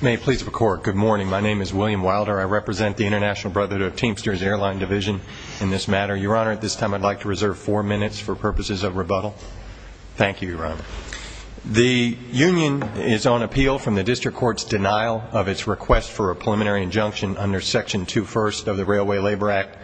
May it please the Court, good morning. My name is William Wilder. I represent the International Brotherhood of Teamsters Airline Division in this matter. Your Honour, at this time I'd like to reserve four minutes for purposes of rebuttal. Thank you, Your Honour. The union is on appeal from the district court's denial of its request for a preliminary injunction under Section 2 First of the Railway Labor Act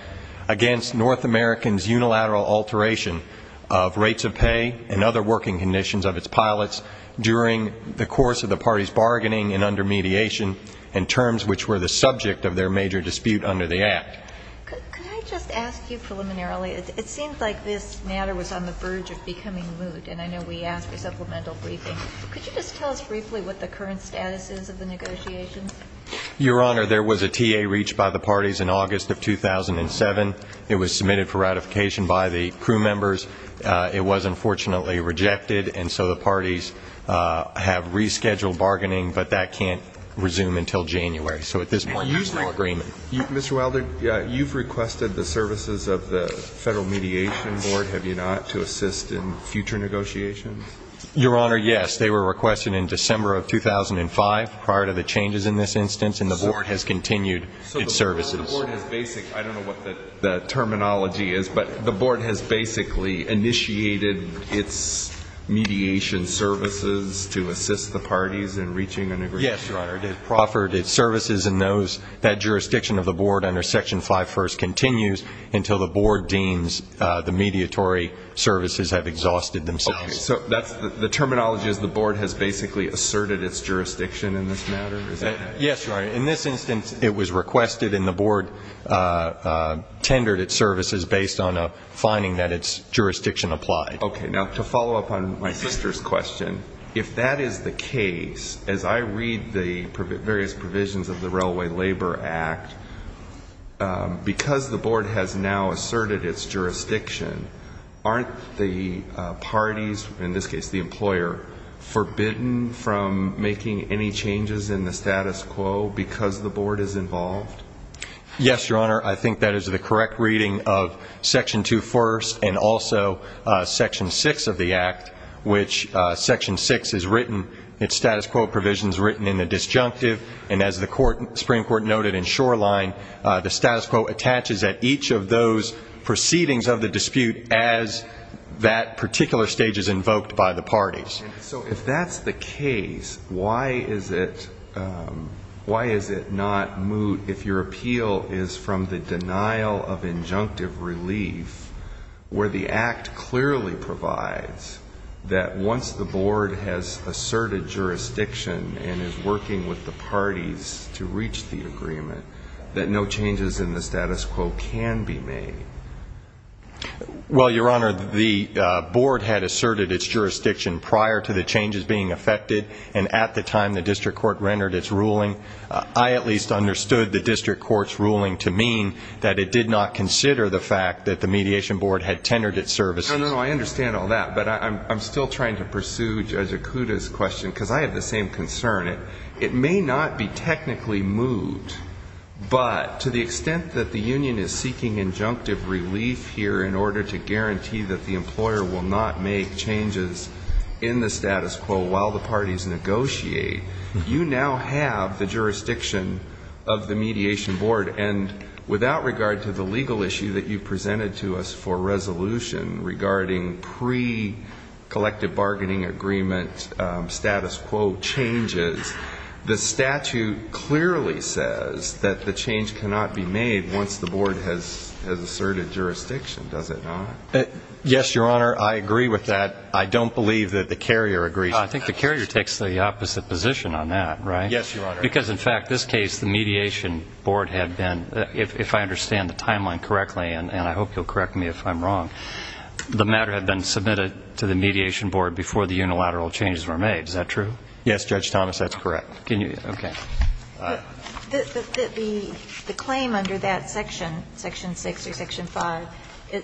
against North American's unilateral alteration of rates of pay and other working conditions of its pilots during the course of the party's bargaining and under mediation and terms which were the subject of their major dispute under the Act. Could I just ask you preliminarily, it seems like this matter was on the verge of becoming moot and I know we asked for supplemental briefing. Could you just tell us briefly what the current status is of the negotiations? Your Honour, there was a TA reached by the parties in August of 2007. It was submitted for ratification by the crew members. It was unfortunately rejected and so the parties have rescheduled bargaining but that can't Mr. Wilder, you've requested the services of the Federal Mediation Board, have you not, to assist in future negotiations? Your Honour, yes. They were requested in December of 2005 prior to the changes in this instance and the board has continued its services. So the board has basic, I don't know what the terminology is, but the board has basically initiated its mediation services to assist the parties in reaching an agreement. Yes, Your Honour, it offered its services and that jurisdiction of the board under Section 5 First continues until the board deems the mediatory services have exhausted themselves. So the terminology is the board has basically asserted its jurisdiction in this matter? Yes, Your Honour, in this instance it was requested and the board tendered its services based on a finding that its jurisdiction applied. Okay, now to follow up on my sister's question, if that is the case, as I read the various provisions of the Railway Labor Act, because the board has now asserted its jurisdiction, aren't the parties, in this case the employer, forbidden from making any changes in the status quo because the board is involved? Yes, Your Honour, I think that is the correct reading of Section 2 First and also Section 6 of the Act, which Section 6 is written, its status quo provision is written in the disjunctive and as the Supreme Court noted in Shoreline, the status quo attaches at each of those proceedings of the dispute as that particular stage is invoked by the parties. So if that is the case, why is it not moot if your appeal is from the denial of injunctive relief where the Act clearly provides that once the board has asserted jurisdiction and is working with the parties to reach the agreement, that no changes in the status quo can be made? Well, Your Honour, the board had asserted its jurisdiction prior to the changes being effected and at the time the district court rendered its ruling, I at least understood the district court's ruling to mean that it did not consider the fact that the mediation board had tendered its services. No, no, I understand all that, but I'm still trying to pursue Judge Okuda's question because I have the same concern. It may not be technically moot, but to the extent that the union is seeking injunctive relief here in order to guarantee that the employer will not make changes in the status quo while the parties negotiate, you now have the jurisdiction of the mediation board and without regard to the legal issue that you presented to us for resolution regarding pre-collective bargaining agreement status quo changes, the statute clearly says that the change cannot be made once the board has asserted jurisdiction, does it not? Yes, Your Honour, I agree with that. I don't believe that the carrier agrees. I think the carrier takes the opposite position on that, right? Yes, Your Honour. Because in fact, this case, the mediation board had been, if I understand the timeline correctly, and I hope you'll correct me if I'm wrong, the matter had been submitted to the mediation board before the unilateral changes were made, is that true? Yes, Judge Thomas, that's correct. Can you, okay. The claim under that section, section 6 or section 5,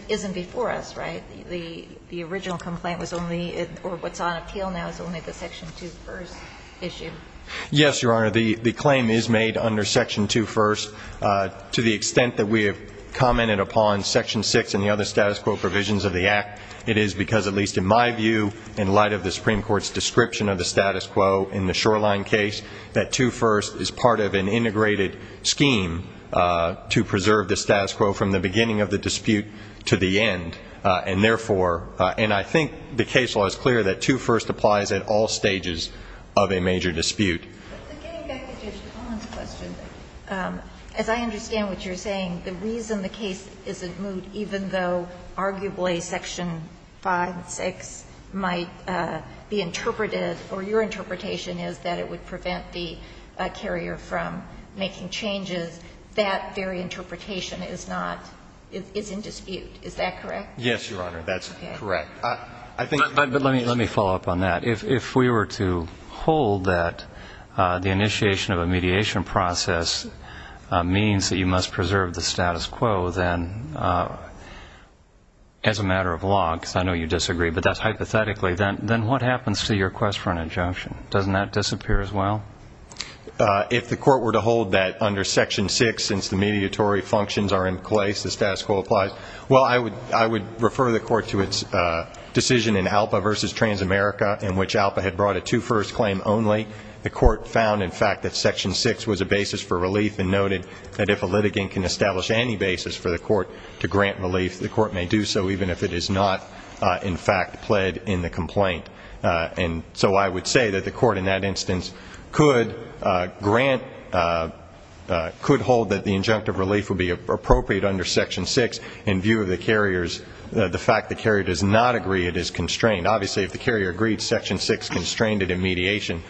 isn't before us, right? The original complaint was only, or what's on appeal now is only the section 2 first issue. Yes, Your Honour, the claim is made under section 2 first. To the extent that we have commented upon section 6 and the other status quo provisions of the act, it is because at least in my view, in light of the Supreme Court's description of the status quo in the Shoreline case, that 2 first is part of an understatus quo from the beginning of the dispute to the end, and therefore, and I think the case law is clear that 2 first applies at all stages of a major dispute. But getting back to Judge Thomas' question, as I understand what you're saying, the reason the case isn't moved, even though arguably section 5, 6 might be interpreted, or your interpretation is that it would prevent the carrier from making changes, that very interpretation is not, is in dispute. Is that correct? Yes, Your Honour, that's correct. But let me follow up on that. If we were to hold that the initiation of a mediation process means that you must preserve the status quo, then as a matter of law, because I know you disagree, but that's clear as well. If the court were to hold that under section 6, since the mediatory functions are in place, the status quo applies, well, I would refer the court to its decision in ALPA versus Transamerica, in which ALPA had brought a 2 first claim only. The court found, in fact, that section 6 was a basis for relief and noted that if a litigant can establish any basis for the court to grant relief, the court may do so, even if it is not, in fact, pled in the complaint. And so I would say that the court in that instance could grant, could hold that the injunctive relief would be appropriate under section 6 in view of the carrier's, the fact that the carrier does not agree it is constrained. Obviously, if the carrier agreed, section 6 constrained it in mediation,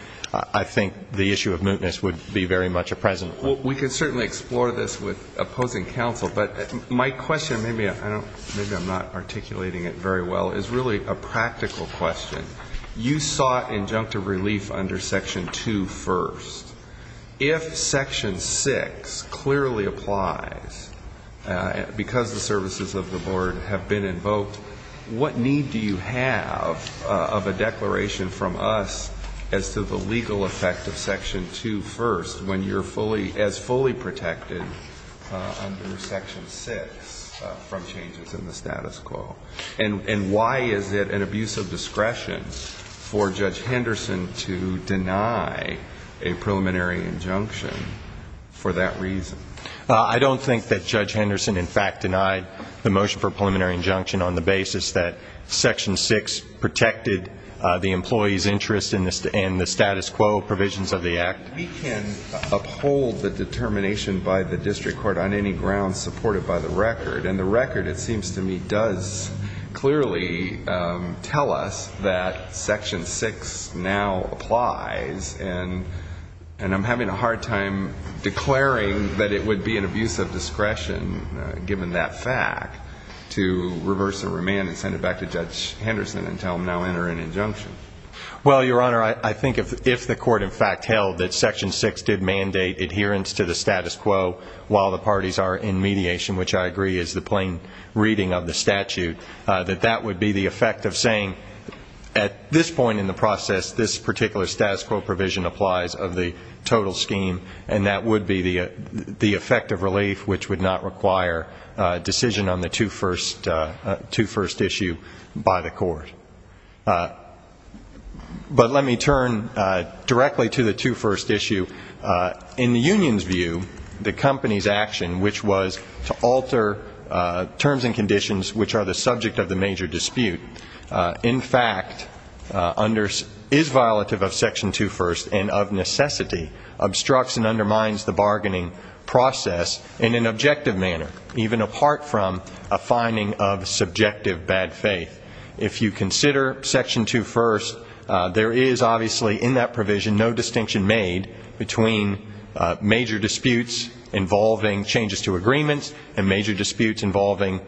I think the issue of mootness would be very much a present one. We could certainly explore this with really a practical question. You sought injunctive relief under section 2 first. If section 6 clearly applies, because the services of the board have been invoked, what need do you have of a declaration from us as to the legal effect of section 2 first when you're fully protected under section 6 from changes in the status quo? And why is it an abuse of discretion for Judge Henderson to deny a preliminary injunction for that reason? I don't think that Judge Henderson, in fact, denied the motion for a preliminary injunction on the basis that section 6 protected the employee's interest in the status quo provisions of the act. We can uphold the determination by the district court on any grounds supported by the record. And the record, it seems to me, does clearly tell us that section 6 now applies. And I'm having a hard time declaring that it would be an abuse of discretion, given that fact, to reverse the remand and send it back to Judge Henderson and tell him now enter an injunction. Well, Your Honor, I think if the court, in fact, held that section 6 did mandate adherence to the status quo while the parties are in mediation, which I agree is the plain reading of the statute, that that would be the effect of saying, at this point in the process, this particular status quo provision applies of the total scheme, and that would be the effect of relief, which would not require decision on the 2 first issue by the court. But let me turn directly to the 2 first issue. In the union's view, the company's action, which was to alter terms and conditions which are the subject of the major dispute, in fact, is violative of section 2 first and of necessity obstructs and undermines the bargaining process in an objective manner, even apart from a finding of subjective bad faith. If you consider section 2 first, there is obviously in that provision no distinction made between major disputes involving changes to agreements and major disputes involving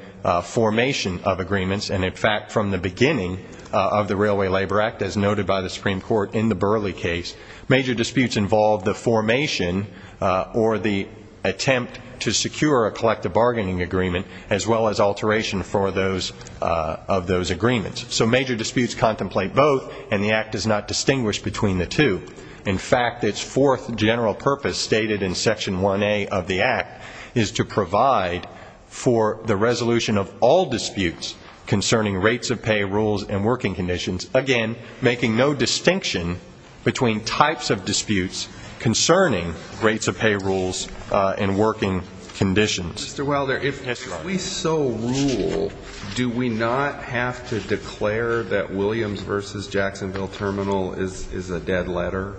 formation of agreements, and in fact, from the beginning of the Railway Labor Act, as noted by the Supreme Court in the Burley case, major disputes involved the formation or the attempt to secure a collective bargaining agreement as well as alteration for those of those agreements. So major disputes contemplate both, and the Act does not distinguish between the two. In fact, its fourth general purpose stated in section 1A of the Act is to provide for the resolution of all disputes concerning rates of pay, rules, and working conditions, again, making no distinction between types of disputes concerning rates of pay, rules, and working conditions. Mr. Wilder, if we so rule, do we not have to declare that Williams v. Jacksonville Terminal is a dead letter?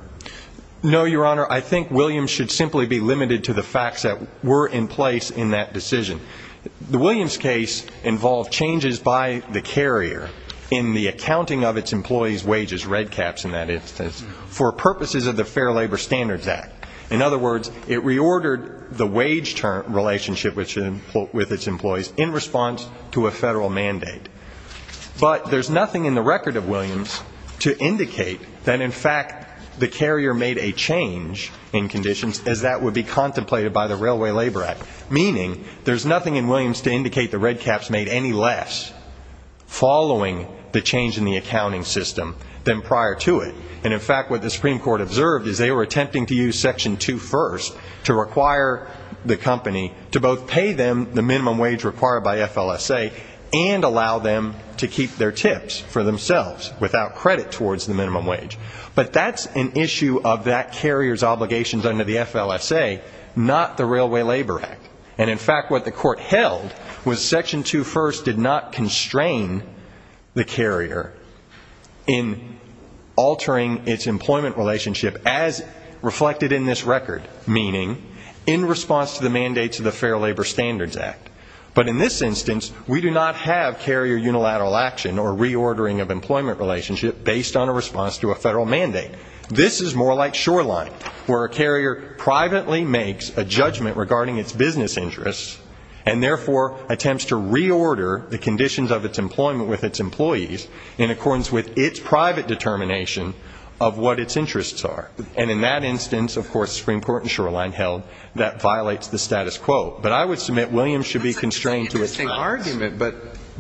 No, Your Honor. I think Williams should simply be limited to the facts that were in place in that decision. The Williams case involved changes by the carrier in the accounting of its employees' wages, red caps in that instance, for purposes of the Fair Labor Standards Act. In other words, it reordered the wage relationship with its employees in response to a federal mandate. But there's nothing in the record of Williams to indicate that, in fact, the carrier made a change in conditions as that would be contemplated by the Railway Labor Act, meaning there's nothing in Williams to indicate the red caps made any less following the change in the accounting system than prior to it. And, in fact, what the Supreme Court observed is they were attempting to use Section 2 First to require the company to both pay them the minimum wage required by FLSA and allow them to keep their tips for themselves without credit towards the minimum wage. But that's an issue of that carrier's obligations under the FLSA, not the Railway Labor Act. And, in fact, what the Court held was Section 2 First did not constrain the carrier in altering its employment relationship with its employees as reflected in this record, meaning in response to the mandates of the Fair Labor Standards Act. But in this instance, we do not have carrier unilateral action or reordering of employment relationship based on a response to a federal mandate. This is more like Shoreline, where a carrier privately makes a judgment regarding its business interests and, therefore, attempts to reorder the conditions of its employment with its employees in accordance with its private determination of what its interests are. And, in that instance, of course, the Supreme Court in Shoreline held that violates the status quo. But I would submit Williams should be constrained to its rights.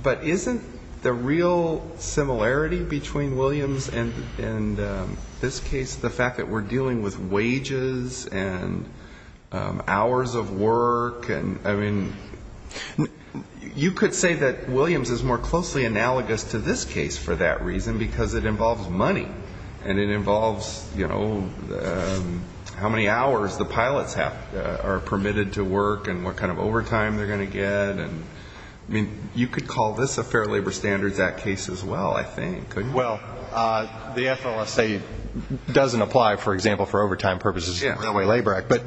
But isn't the real similarity between Williams and this case the fact that we're dealing with wages and hours of work? I mean, you could say that Williams is more closely analogous to this case for that reason because it involves money and it involves, you know, how many hours the pilots are permitted to work and what kind of overtime they're going to get. I mean, you could call this a Fair Labor Standards Act case as well, I think, couldn't you? Well, the FLSA doesn't apply, for example, for overtime purposes in the Railway Labor Act. But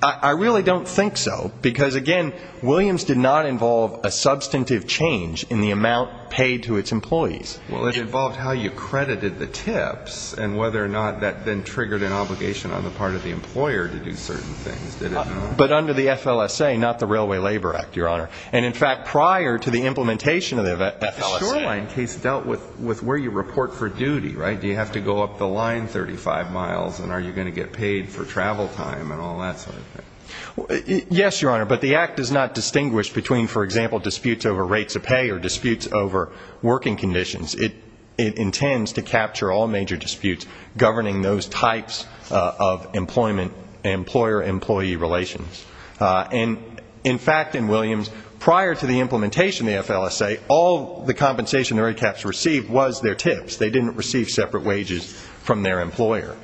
I really don't think so because, again, Williams did not involve a substantive change in the amount paid to its employees. Well, it involved how you credited the tips and whether or not that then triggered an obligation on the part of the employer to do certain things, did it not? But under the FLSA, not the Railway Labor Act, Your Honor. And, in fact, prior to the implementation of the FLSA. The Shoreline case dealt with where you report for duty, right? Do you have to go up the line 35 miles and are you going to get paid for travel time and all that sort of thing? Yes, Your Honor. But the act does not distinguish between, for example, disputes over rates of pay or disputes over working conditions. It intends to capture all major disputes governing those types of employment, employer-employee relations. And, in fact, in Williams, prior to the implementation of the FLSA, all the compensation the red caps received was their tips. They didn't receive separate wages from their employer.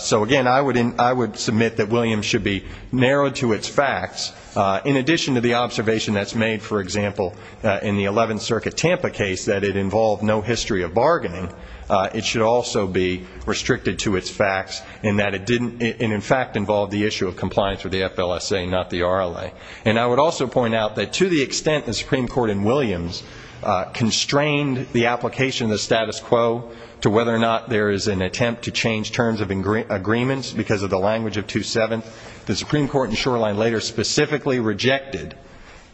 So, again, I would submit that Williams should be narrowed to its facts. In addition to the observation that's made, for example, in the 11th Circuit Tampa case that it involved no history of bargaining, it should also be restricted to its facts in that it didn't, in fact, involve the issue of compliance with the FLSA, not the RLA. And I would also point out that to the extent the Supreme Court in Williams constrained the application of the status quo to whether or not there is an attempt to change terms of agreements because of the language of 2-7th, the Supreme Court in Shoreline later specifically rejected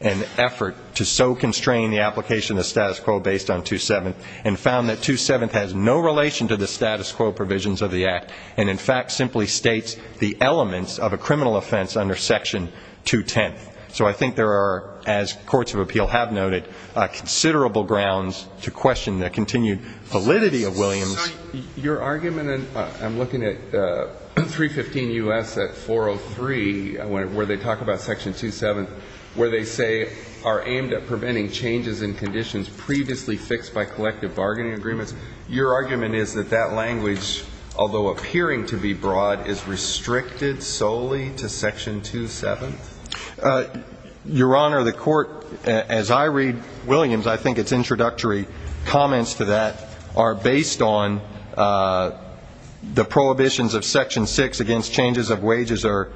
an effort to so constrain the application of the status quo based on 2-7th and found that 2-7th has no relation to the status quo provisions of the act and, in fact, simply states the elements of a criminal offense under Section 2-10th. So I think there are, as courts of appeal have noted, considerable grounds to question the continued validity of Williams. Your argument, and I'm looking at 315 U.S. at 403, where they talk about Section 2-7th, where they say, are aimed at preventing changes in conditions previously fixed by collective bargaining agreements. Your argument is that that language, although appearing to be broad, is restricted solely to Section 2-7th? Your Honor, the Court, as I read Williams, I think its introductory comments to that are based on the prohibitions of Section 6 against changes of wages or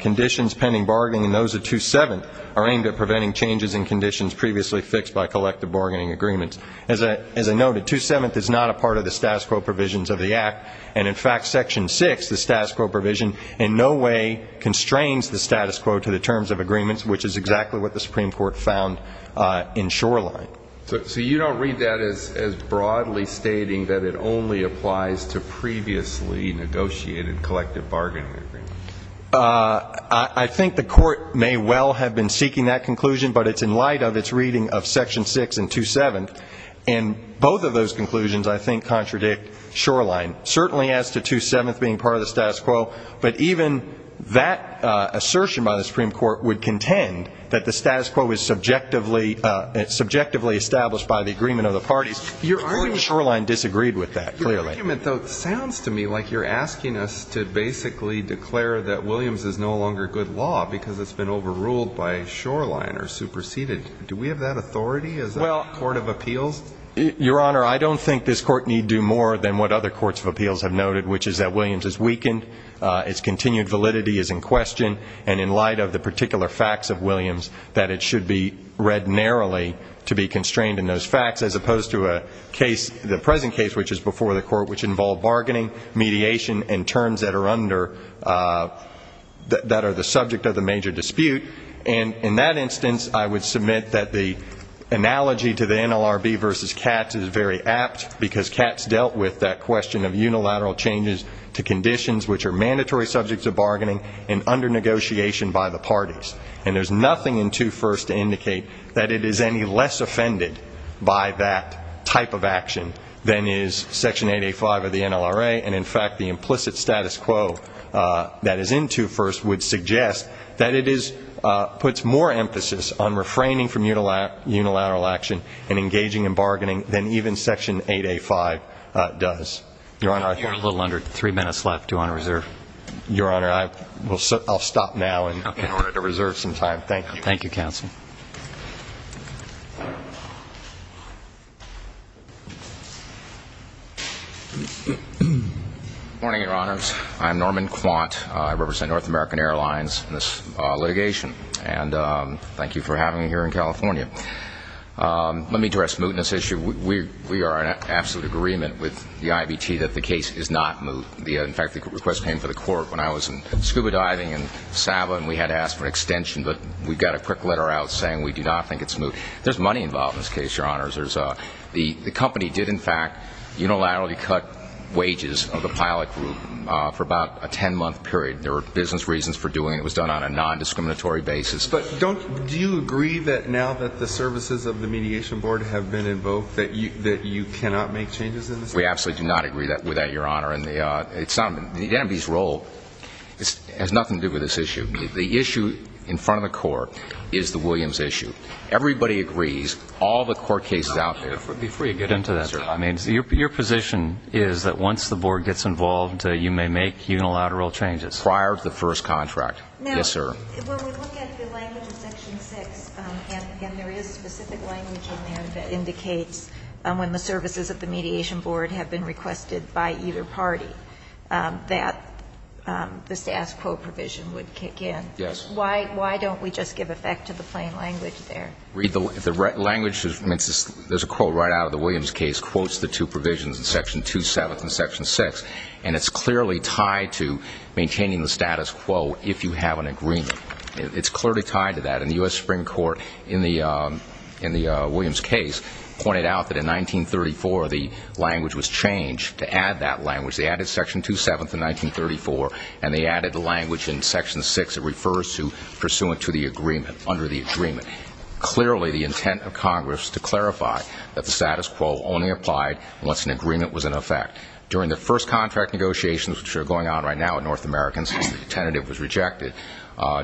conditions pending bargaining and those of 2-7th are aimed at preventing changes in conditions previously fixed by collective bargaining agreements. As I noted, 2-7th is not a part of the status quo provisions of the act and, in fact, Section 6, the status quo provision, in no way constrains the status quo to the terms of agreements, which is exactly what the Supreme Court found in Shoreline. So you don't read that as broadly stating that it only applies to previously negotiated collective bargaining agreements? I think the Court may well have been seeking that conclusion, but it's in light of its reading of Section 6 and 2-7th, and both of those conclusions, I think, contradict Shoreline, certainly as to 2-7th being part of the status quo, but even that assertion by the Supreme Court, established by the agreement of the parties, I think Shoreline disagreed with that, clearly. Your argument, though, sounds to me like you're asking us to basically declare that Williams is no longer good law because it's been overruled by Shoreline or superseded. Do we have that authority as a court of appeals? Your Honor, I don't think this Court need do more than what other courts of appeals have noted, which is that Williams is weakened, its continued validity is in question, and in light of the particular facts of Williams, that it should be read narrowly to be constrained in those facts, as opposed to a case, the present case, which is before the Court, which involved bargaining, mediation, and terms that are under, that are the subject of the major dispute. And in that instance, I would submit that the analogy to the NLRB versus Katz is very apt because Katz dealt with that question of unilateral changes to conditions which are mandatory subjects of bargaining and under negotiation by the parties. And there's nothing in 2 First to indicate that it is any less offended by that type of action than is Section 8A5 of the NLRA, and in fact, the implicit status quo that is in 2 First would suggest that it is, puts more emphasis on refraining from unilateral action and engaging in bargaining than even Section 8A5 does. Your Honor, I think we're a little under three minutes left. Do you want to reserve? Your Honor, I will stop now in order to reserve some time. Thank you. Thank you, Counsel. Good morning, Your Honors. I'm Norman Quant. I represent North American Airlines in this litigation, and thank you for having me here in California. Let me address mootness issue. We are in absolute agreement with the IBT that the case is not moot. In fact, the request came to the Court when I was scuba diving in Sabah, and we had asked for an extension, but we got a quick letter out saying we do not think it's moot. There's money involved in this case, Your Honors. The company did, in fact, unilaterally cut wages of the pilot group for about a 10-month period. There were business reasons for doing it. It was done on a nondiscriminatory basis. Yes, but do you agree that now that the services of the Mediation Board have been invoked that you cannot make changes in this case? We absolutely do not agree with that, Your Honor. The NMB's role has nothing to do with this issue. The issue in front of the Court is the Williams issue. Everybody agrees, all the court cases out there. Before you get into that, sir, I mean, your position is that once the Board gets involved, you may make unilateral changes? Prior to the first contract, yes, sir. When we look at the language in Section 6, and again, there is specific language in there that indicates when the services of the Mediation Board have been requested by either party that the status quo provision would kick in. Yes. Why don't we just give effect to the plain language there? Read the language. There's a quote right out of the Williams case, quotes the two provisions in Section 2-7 and Section 6, and it's clearly tied to maintaining the status quo if you have an agreement. It's clearly tied to that, and the U.S. Supreme Court in the Williams case pointed out that in 1934, the language was changed to add that language. They added Section 2-7 to 1934, and they added the language in Section 6 that refers to pursuant to the agreement, under the agreement, clearly the intent of Congress to clarify that the status quo only applied once an agreement was in effect. During the first contract negotiations, which are going on right now with North Americans, since the tentative was rejected,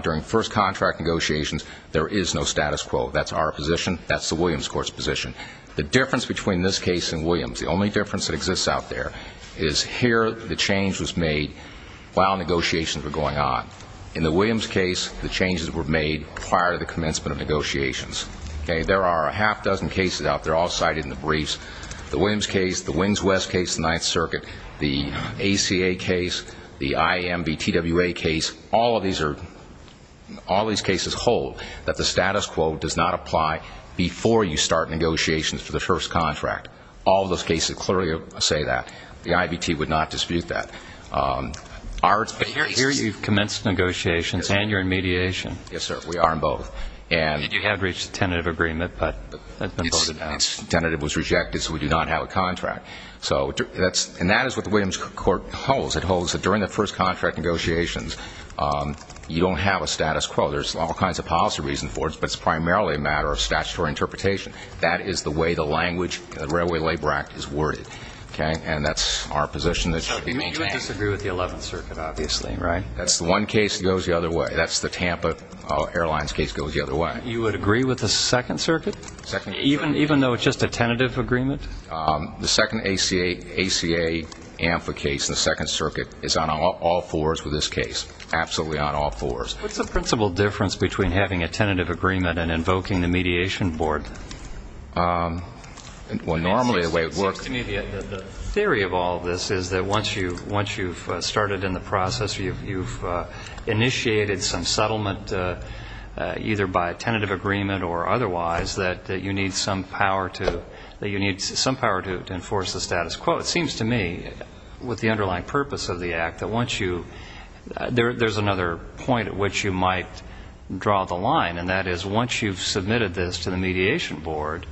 during first contract negotiations, there is no status quo. That's our position. That's the Williams court's position. The difference between this case and Williams, the only difference that exists out there, is here the change was made while negotiations were going on. In the Williams case, the changes were made prior to the commencement of negotiations. There are a half-dozen cases out there all cited in the briefs. The Williams case, the Wings West case, the Ninth Circuit, the ACA case, the IMVTWA case, all of these are, all these cases hold that the status quo does not apply before you start negotiations for the first contract. All of those cases clearly say that. The IBT would not dispute that. Our experience is... But here you've commenced negotiations, and you're in mediation. Yes, sir. We are in both. And you have reached a tentative agreement, but that's been voted out. Tentative was rejected, so we do not have a contract. So that's, and that is what the agreement holds, that during the first contract negotiations, you don't have a status quo. There's all kinds of policy reasons for it, but it's primarily a matter of statutory interpretation. That is the way the language of the Railway Labor Act is worded, okay? And that's our position that should be maintained. So you would disagree with the Eleventh Circuit, obviously, right? That's the one case that goes the other way. That's the Tampa Airlines case that goes the other way. You would agree with the Second Circuit? Second Circuit. Even, even though it's just a tentative agreement? The second ACA, ACA AMFA case in the Second Circuit is on all fours with this case. Absolutely on all fours. What's the principal difference between having a tentative agreement and invoking the Mediation Board? Well, normally the way it works... The theory of all this is that once you, once you've started in the process, you've initiated some settlement, either by a tentative agreement or otherwise, that you need some power to, that you need some power to enforce the status quo. It seems to me, with the underlying purpose of the Act, that once you, there, there's another point at which you might draw the line, and that is once you've submitted this to the Mediation Board,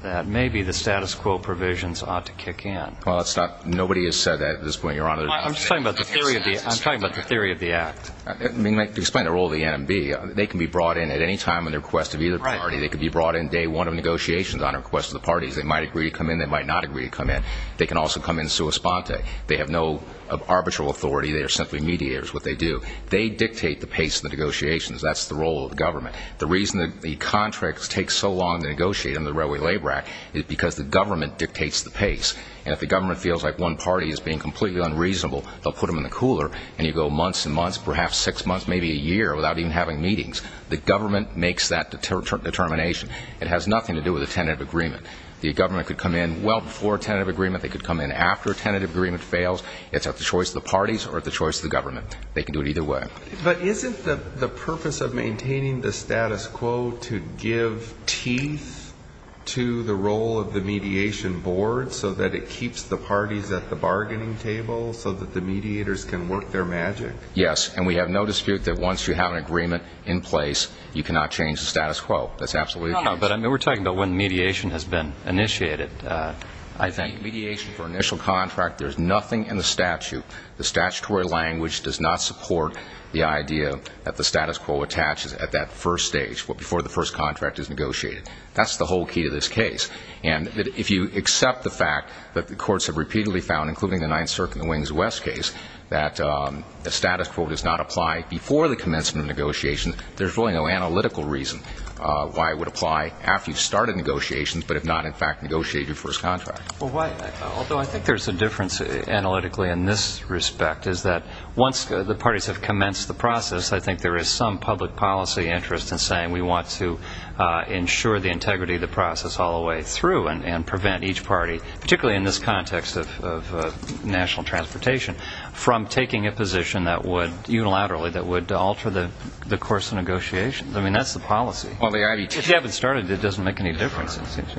that maybe the status quo provisions ought to kick in. Well, it's not, nobody has said that at this point, Your Honor. I'm just talking about the theory of the, I'm talking about the theory of the Act. I mean, to explain the role of the NMB, they can be brought in at any time on the request of either party. Right. They can be brought in day one of negotiations on request of the parties. They might agree to come in. They might not agree to come in. They can also come in sua sponte. They have no arbitral authority. They are simply mediators, what they do. They dictate the pace of the negotiations. That's the role of the government. The reason that the contracts take so long to negotiate under the Railway Labor Act is because the government dictates the pace, and if the government feels like one party is being completely unreasonable, they'll put them in the cooler, and you go months and months, perhaps six months, maybe a year, without even having meetings. The government makes that determination. It has nothing to do with a tentative agreement. The government could come in well before a tentative agreement. They could come in after a tentative agreement fails. It's at the choice of the parties or at the choice of the government. They can do it either way. But isn't the purpose of maintaining the status quo to give teeth to the role of the mediation board so that it keeps the parties at the bargaining table so that the mediators can work their magic? Yes. And we have no dispute that once you have an agreement in place, you cannot change the status quo. That's absolutely the case. No, but I mean, we're talking about when mediation has been initiated, I think. Mediation for initial contract, there's nothing in the statute. The statutory language does not support the idea that the status quo attaches at that first stage, before the first contract is negotiated. That's the whole key to this case. And if you accept the fact that the courts have repeatedly found, including the Ninth Amendment, that the status quo does not apply before the commencement of negotiations, there's really no analytical reason why it would apply after you've started negotiations, but if not, in fact, negotiate your first contract. Although I think there's a difference analytically in this respect, is that once the parties have commenced the process, I think there is some public policy interest in saying we want to ensure the integrity of the process all the way through and prevent each party, particularly in this context of national transportation, from taking a position that would, unilaterally, that would alter the course of negotiations. I mean, that's the policy. If you haven't started it, it doesn't make any difference.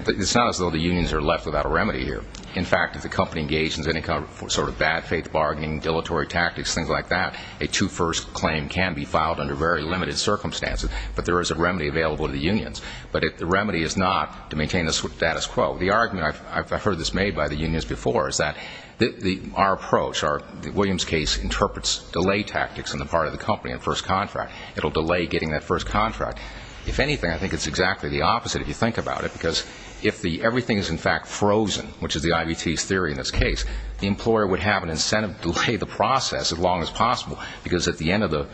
It's not as though the unions are left without a remedy here. In fact, if the company engages in any kind of sort of bad faith bargaining, dilatory tactics, things like that, a two-first claim can be filed under very limited circumstances, but there is a remedy available to the unions. but there is a remedy available to the unions. before, is that our approach, William's case, interprets delay tactics on the part of the company in first contract. It will delay getting that first contract. If anything, I think it's exactly the opposite if you think about it, because if everything is, in fact, frozen, which is the IVT's theory in this case, the employer would have an incentive to delay the process as long as possible, because at the end of the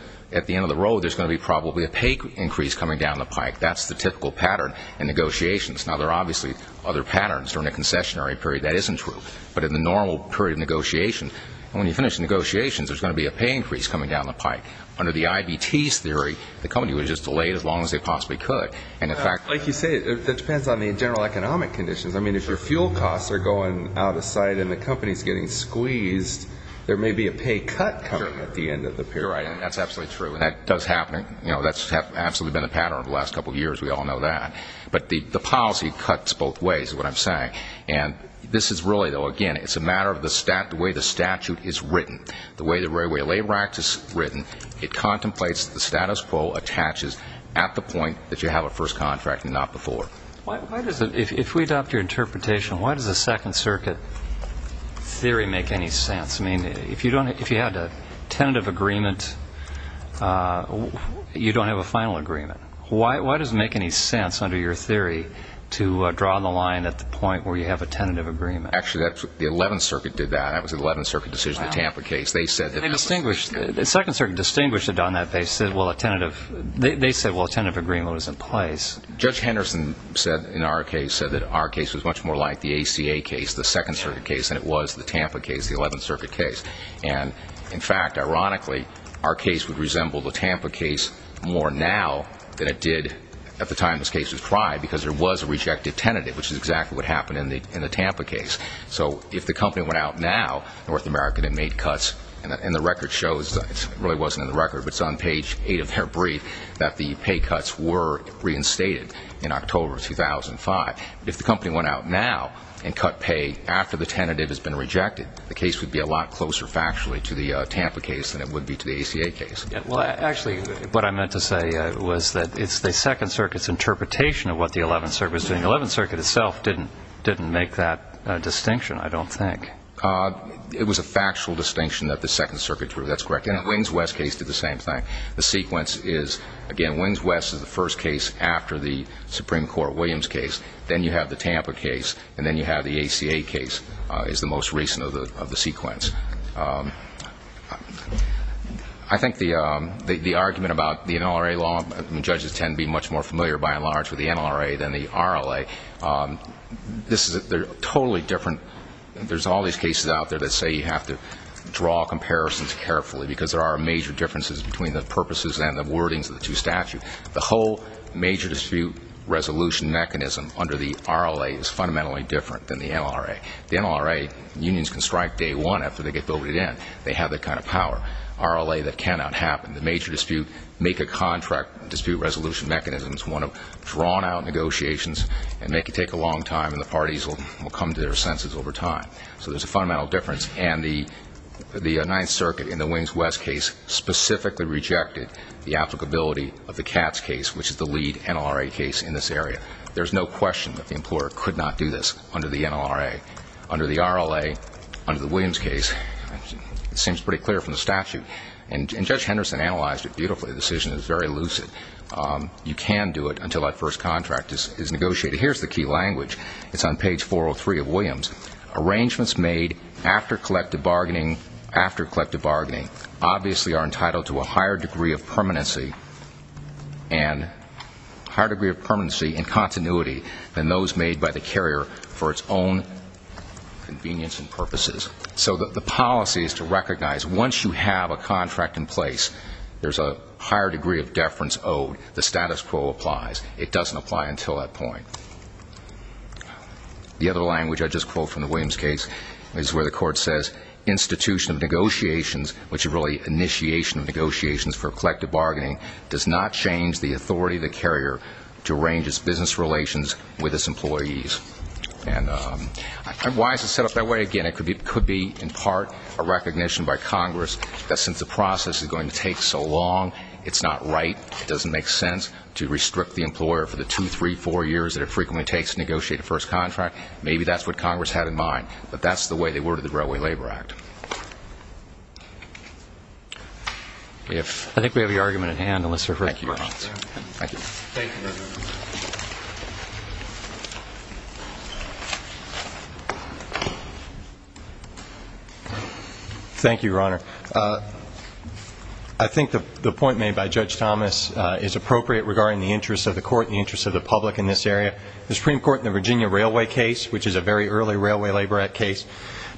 road, there's going to be probably a pay increase coming down the pike. That's the typical pattern in negotiations. Now, there are obviously other patterns during the concessionary period. That isn't true. But in the normal period of negotiation, when you finish negotiations, there's going to be a pay increase coming down the pike. Under the IVT's theory, the company would just delay it as long as they possibly could. And in fact, Like you say, that depends on the general economic conditions. I mean, if your fuel costs are going out of sight and the company's getting squeezed, there may be a pay cut coming at the end of the period. Right. And that's absolutely true. And that does happen. You know, that's absolutely been the pattern over the last couple of years. We all know that. But the policy cuts both ways, is what I'm saying. And this is really, though, again, it's a matter of the statute, the way the statute is written, the way the Railway Labor Act is written. It contemplates the status quo attaches at the point that you have a first contract and not before. Why does it, if we adopt your interpretation, why does the Second Circuit theory make any sense? I mean, if you don't, if you had a tentative agreement, you don't have a final agreement. Why does it make any sense, under your theory, to draw the line at the point where you have a tentative agreement? Actually, the 11th Circuit did that. That was an 11th Circuit decision, the Tampa case. They said that... They distinguished... The Second Circuit distinguished it on that. They said, well, a tentative... They said, well, a tentative agreement was in place. Judge Henderson said, in our case, said that our case was much more like the ACA case, the Second Circuit case, than it was the Tampa case, the 11th Circuit case. And in fact, ironically, our case would resemble the Tampa case more now than it did at the time this case was tried, because there was a rejected tentative, which is exactly what happened in the Tampa case. So if the company went out now, North America had made cuts, and the record shows, it really wasn't in the record, but it's on page eight of their brief, that the pay cuts were reinstated in October of 2005. If the company went out now and cut pay after the tentative has been rejected, the case would be a lot closer factually to the Tampa case than it would be to the ACA case. Well, actually, what I meant to say was that it's the Second Circuit's interpretation of what the 11th Circuit was doing. The 11th Circuit itself didn't make that distinction, I don't think. It was a factual distinction that the Second Circuit drew. That's correct. And the Wings West case did the same thing. The sequence is, again, Wings West is the first case after the Supreme Court Williams case. Then you have the Tampa case. And then you have the ACA case is the most recent of the sequence. I think the argument about the NLRA law, and judges tend to be much more familiar by and large with the NLRA than the RLA, they're totally different. There's all these cases out there that say you have to draw comparisons carefully because there are major differences between the purposes and the wordings of the two statutes. The whole major dispute resolution mechanism under the RLA is fundamentally different than the NLRA. The NLRA unions can strike day one after they get voted in. They have that kind of power. RLA, that cannot happen. The major dispute, make a contract dispute resolution mechanism is one of drawn out negotiations and they can take a long time and the parties will come to their senses over time. So there's a fundamental difference. And the Ninth Circuit in the Wings West case specifically rejected the applicability of the CATS case, which is the lead NLRA case in this area. There's no question that the employer could not do this under the NLRA. Under the RLA, under the Williams case, it seems pretty clear from the statute. And Judge Henderson analyzed it beautifully, the decision is very lucid. You can do it until that first contract is negotiated. Here's the key language. It's on page 403 of Williams. Arrangements made after collective bargaining, after collective bargaining, obviously are and higher degree of permanency and continuity than those made by the carrier for its own convenience and purposes. So the policy is to recognize once you have a contract in place, there's a higher degree of deference owed. The status quo applies. It doesn't apply until that point. The other language I just quote from the Williams case is where the court says institution of negotiations, which is really initiation of negotiations for collective bargaining, does not change the authority of the carrier to arrange its business relations with its employees. And why is it set up that way? Again, it could be in part a recognition by Congress that since the process is going to take so long, it's not right, it doesn't make sense to restrict the employer for the two, three, four years that it frequently takes to negotiate a first contract. Maybe that's what Congress had in mind, but that's the way they worded the Railway Labor Act. I think we have your argument at hand, unless there are further questions. Thank you, Your Honor. I think the point made by Judge Thomas is appropriate regarding the interest of the court and the interest of the public in this area. The Supreme Court in the Virginia Railway case, which is a very early Railway Labor Act case,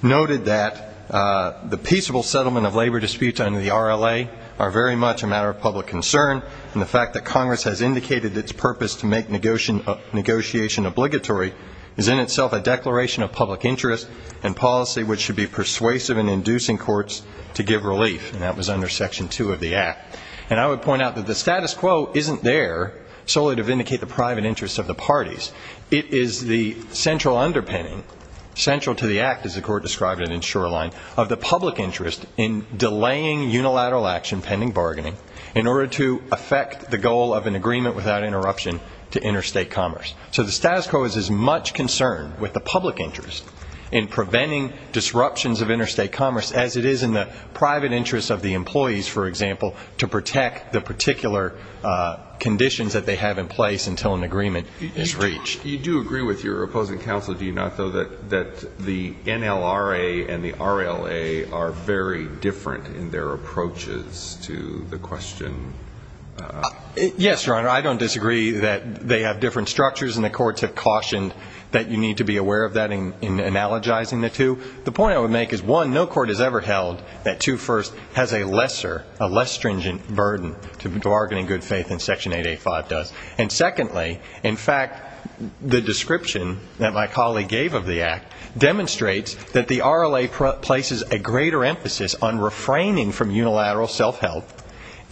noted that the peaceable settlement of labor disputes under the RLA are very much a matter of public concern, and the fact that Congress has indicated its purpose to make negotiation obligatory is in itself a declaration of public interest and policy which should be persuasive in inducing courts to give relief, and that was under Section 2 of the Act. And I would point out that the status quo isn't there solely to vindicate the private interest of the parties. It is the central underpinning, central to the Act as the Court described it in Shoreline, of the public interest in delaying unilateral action pending bargaining in order to affect the goal of an agreement without interruption to interstate commerce. So the status quo is as much concerned with the public interest in preventing disruptions of interstate commerce as it is in the private interest of the employees, for example, to You do agree with your opposing counsel, do you not, though, that the NLRA and the RLA are very different in their approaches to the question? Yes, Your Honor, I don't disagree that they have different structures, and the courts have cautioned that you need to be aware of that in analogizing the two. The point I would make is, one, no court has ever held that 2 First has a lesser, a less stringent burden to bargaining good faith than Section 885 does. And secondly, in fact, the description that my colleague gave of the Act demonstrates that the RLA places a greater emphasis on refraining from unilateral self-help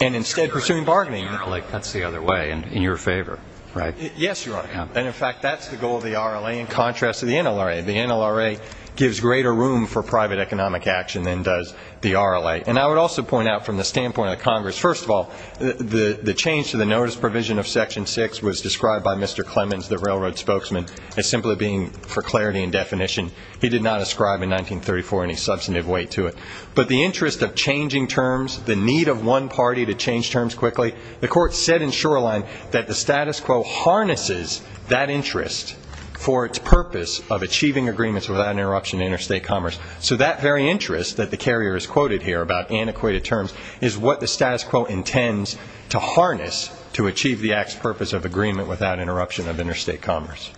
and instead pursuing bargaining. That's the other way, in your favor, right? Yes, Your Honor, and in fact, that's the goal of the RLA in contrast to the NLRA. The NLRA gives greater room for private economic action than does the RLA. And I would also point out from the standpoint of Congress, first of all, the change to the notice provision of Section 6 was described by Mr. Clemens, the railroad spokesman, as simply being for clarity and definition. He did not ascribe in 1934 any substantive weight to it. But the interest of changing terms, the need of one party to change terms quickly, the court said in Shoreline that the status quo harnesses that interest for its purpose of achieving agreements without interruption in interstate commerce. So that very interest that the carrier has quoted here about antiquated terms is what the status quo intends to harness to achieve the act's purpose of agreement without interruption of interstate commerce.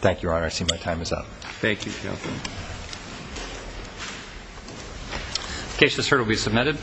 Thank you, Your Honor. I see my time is up. Thank you, Counselor. The case just heard will be submitted.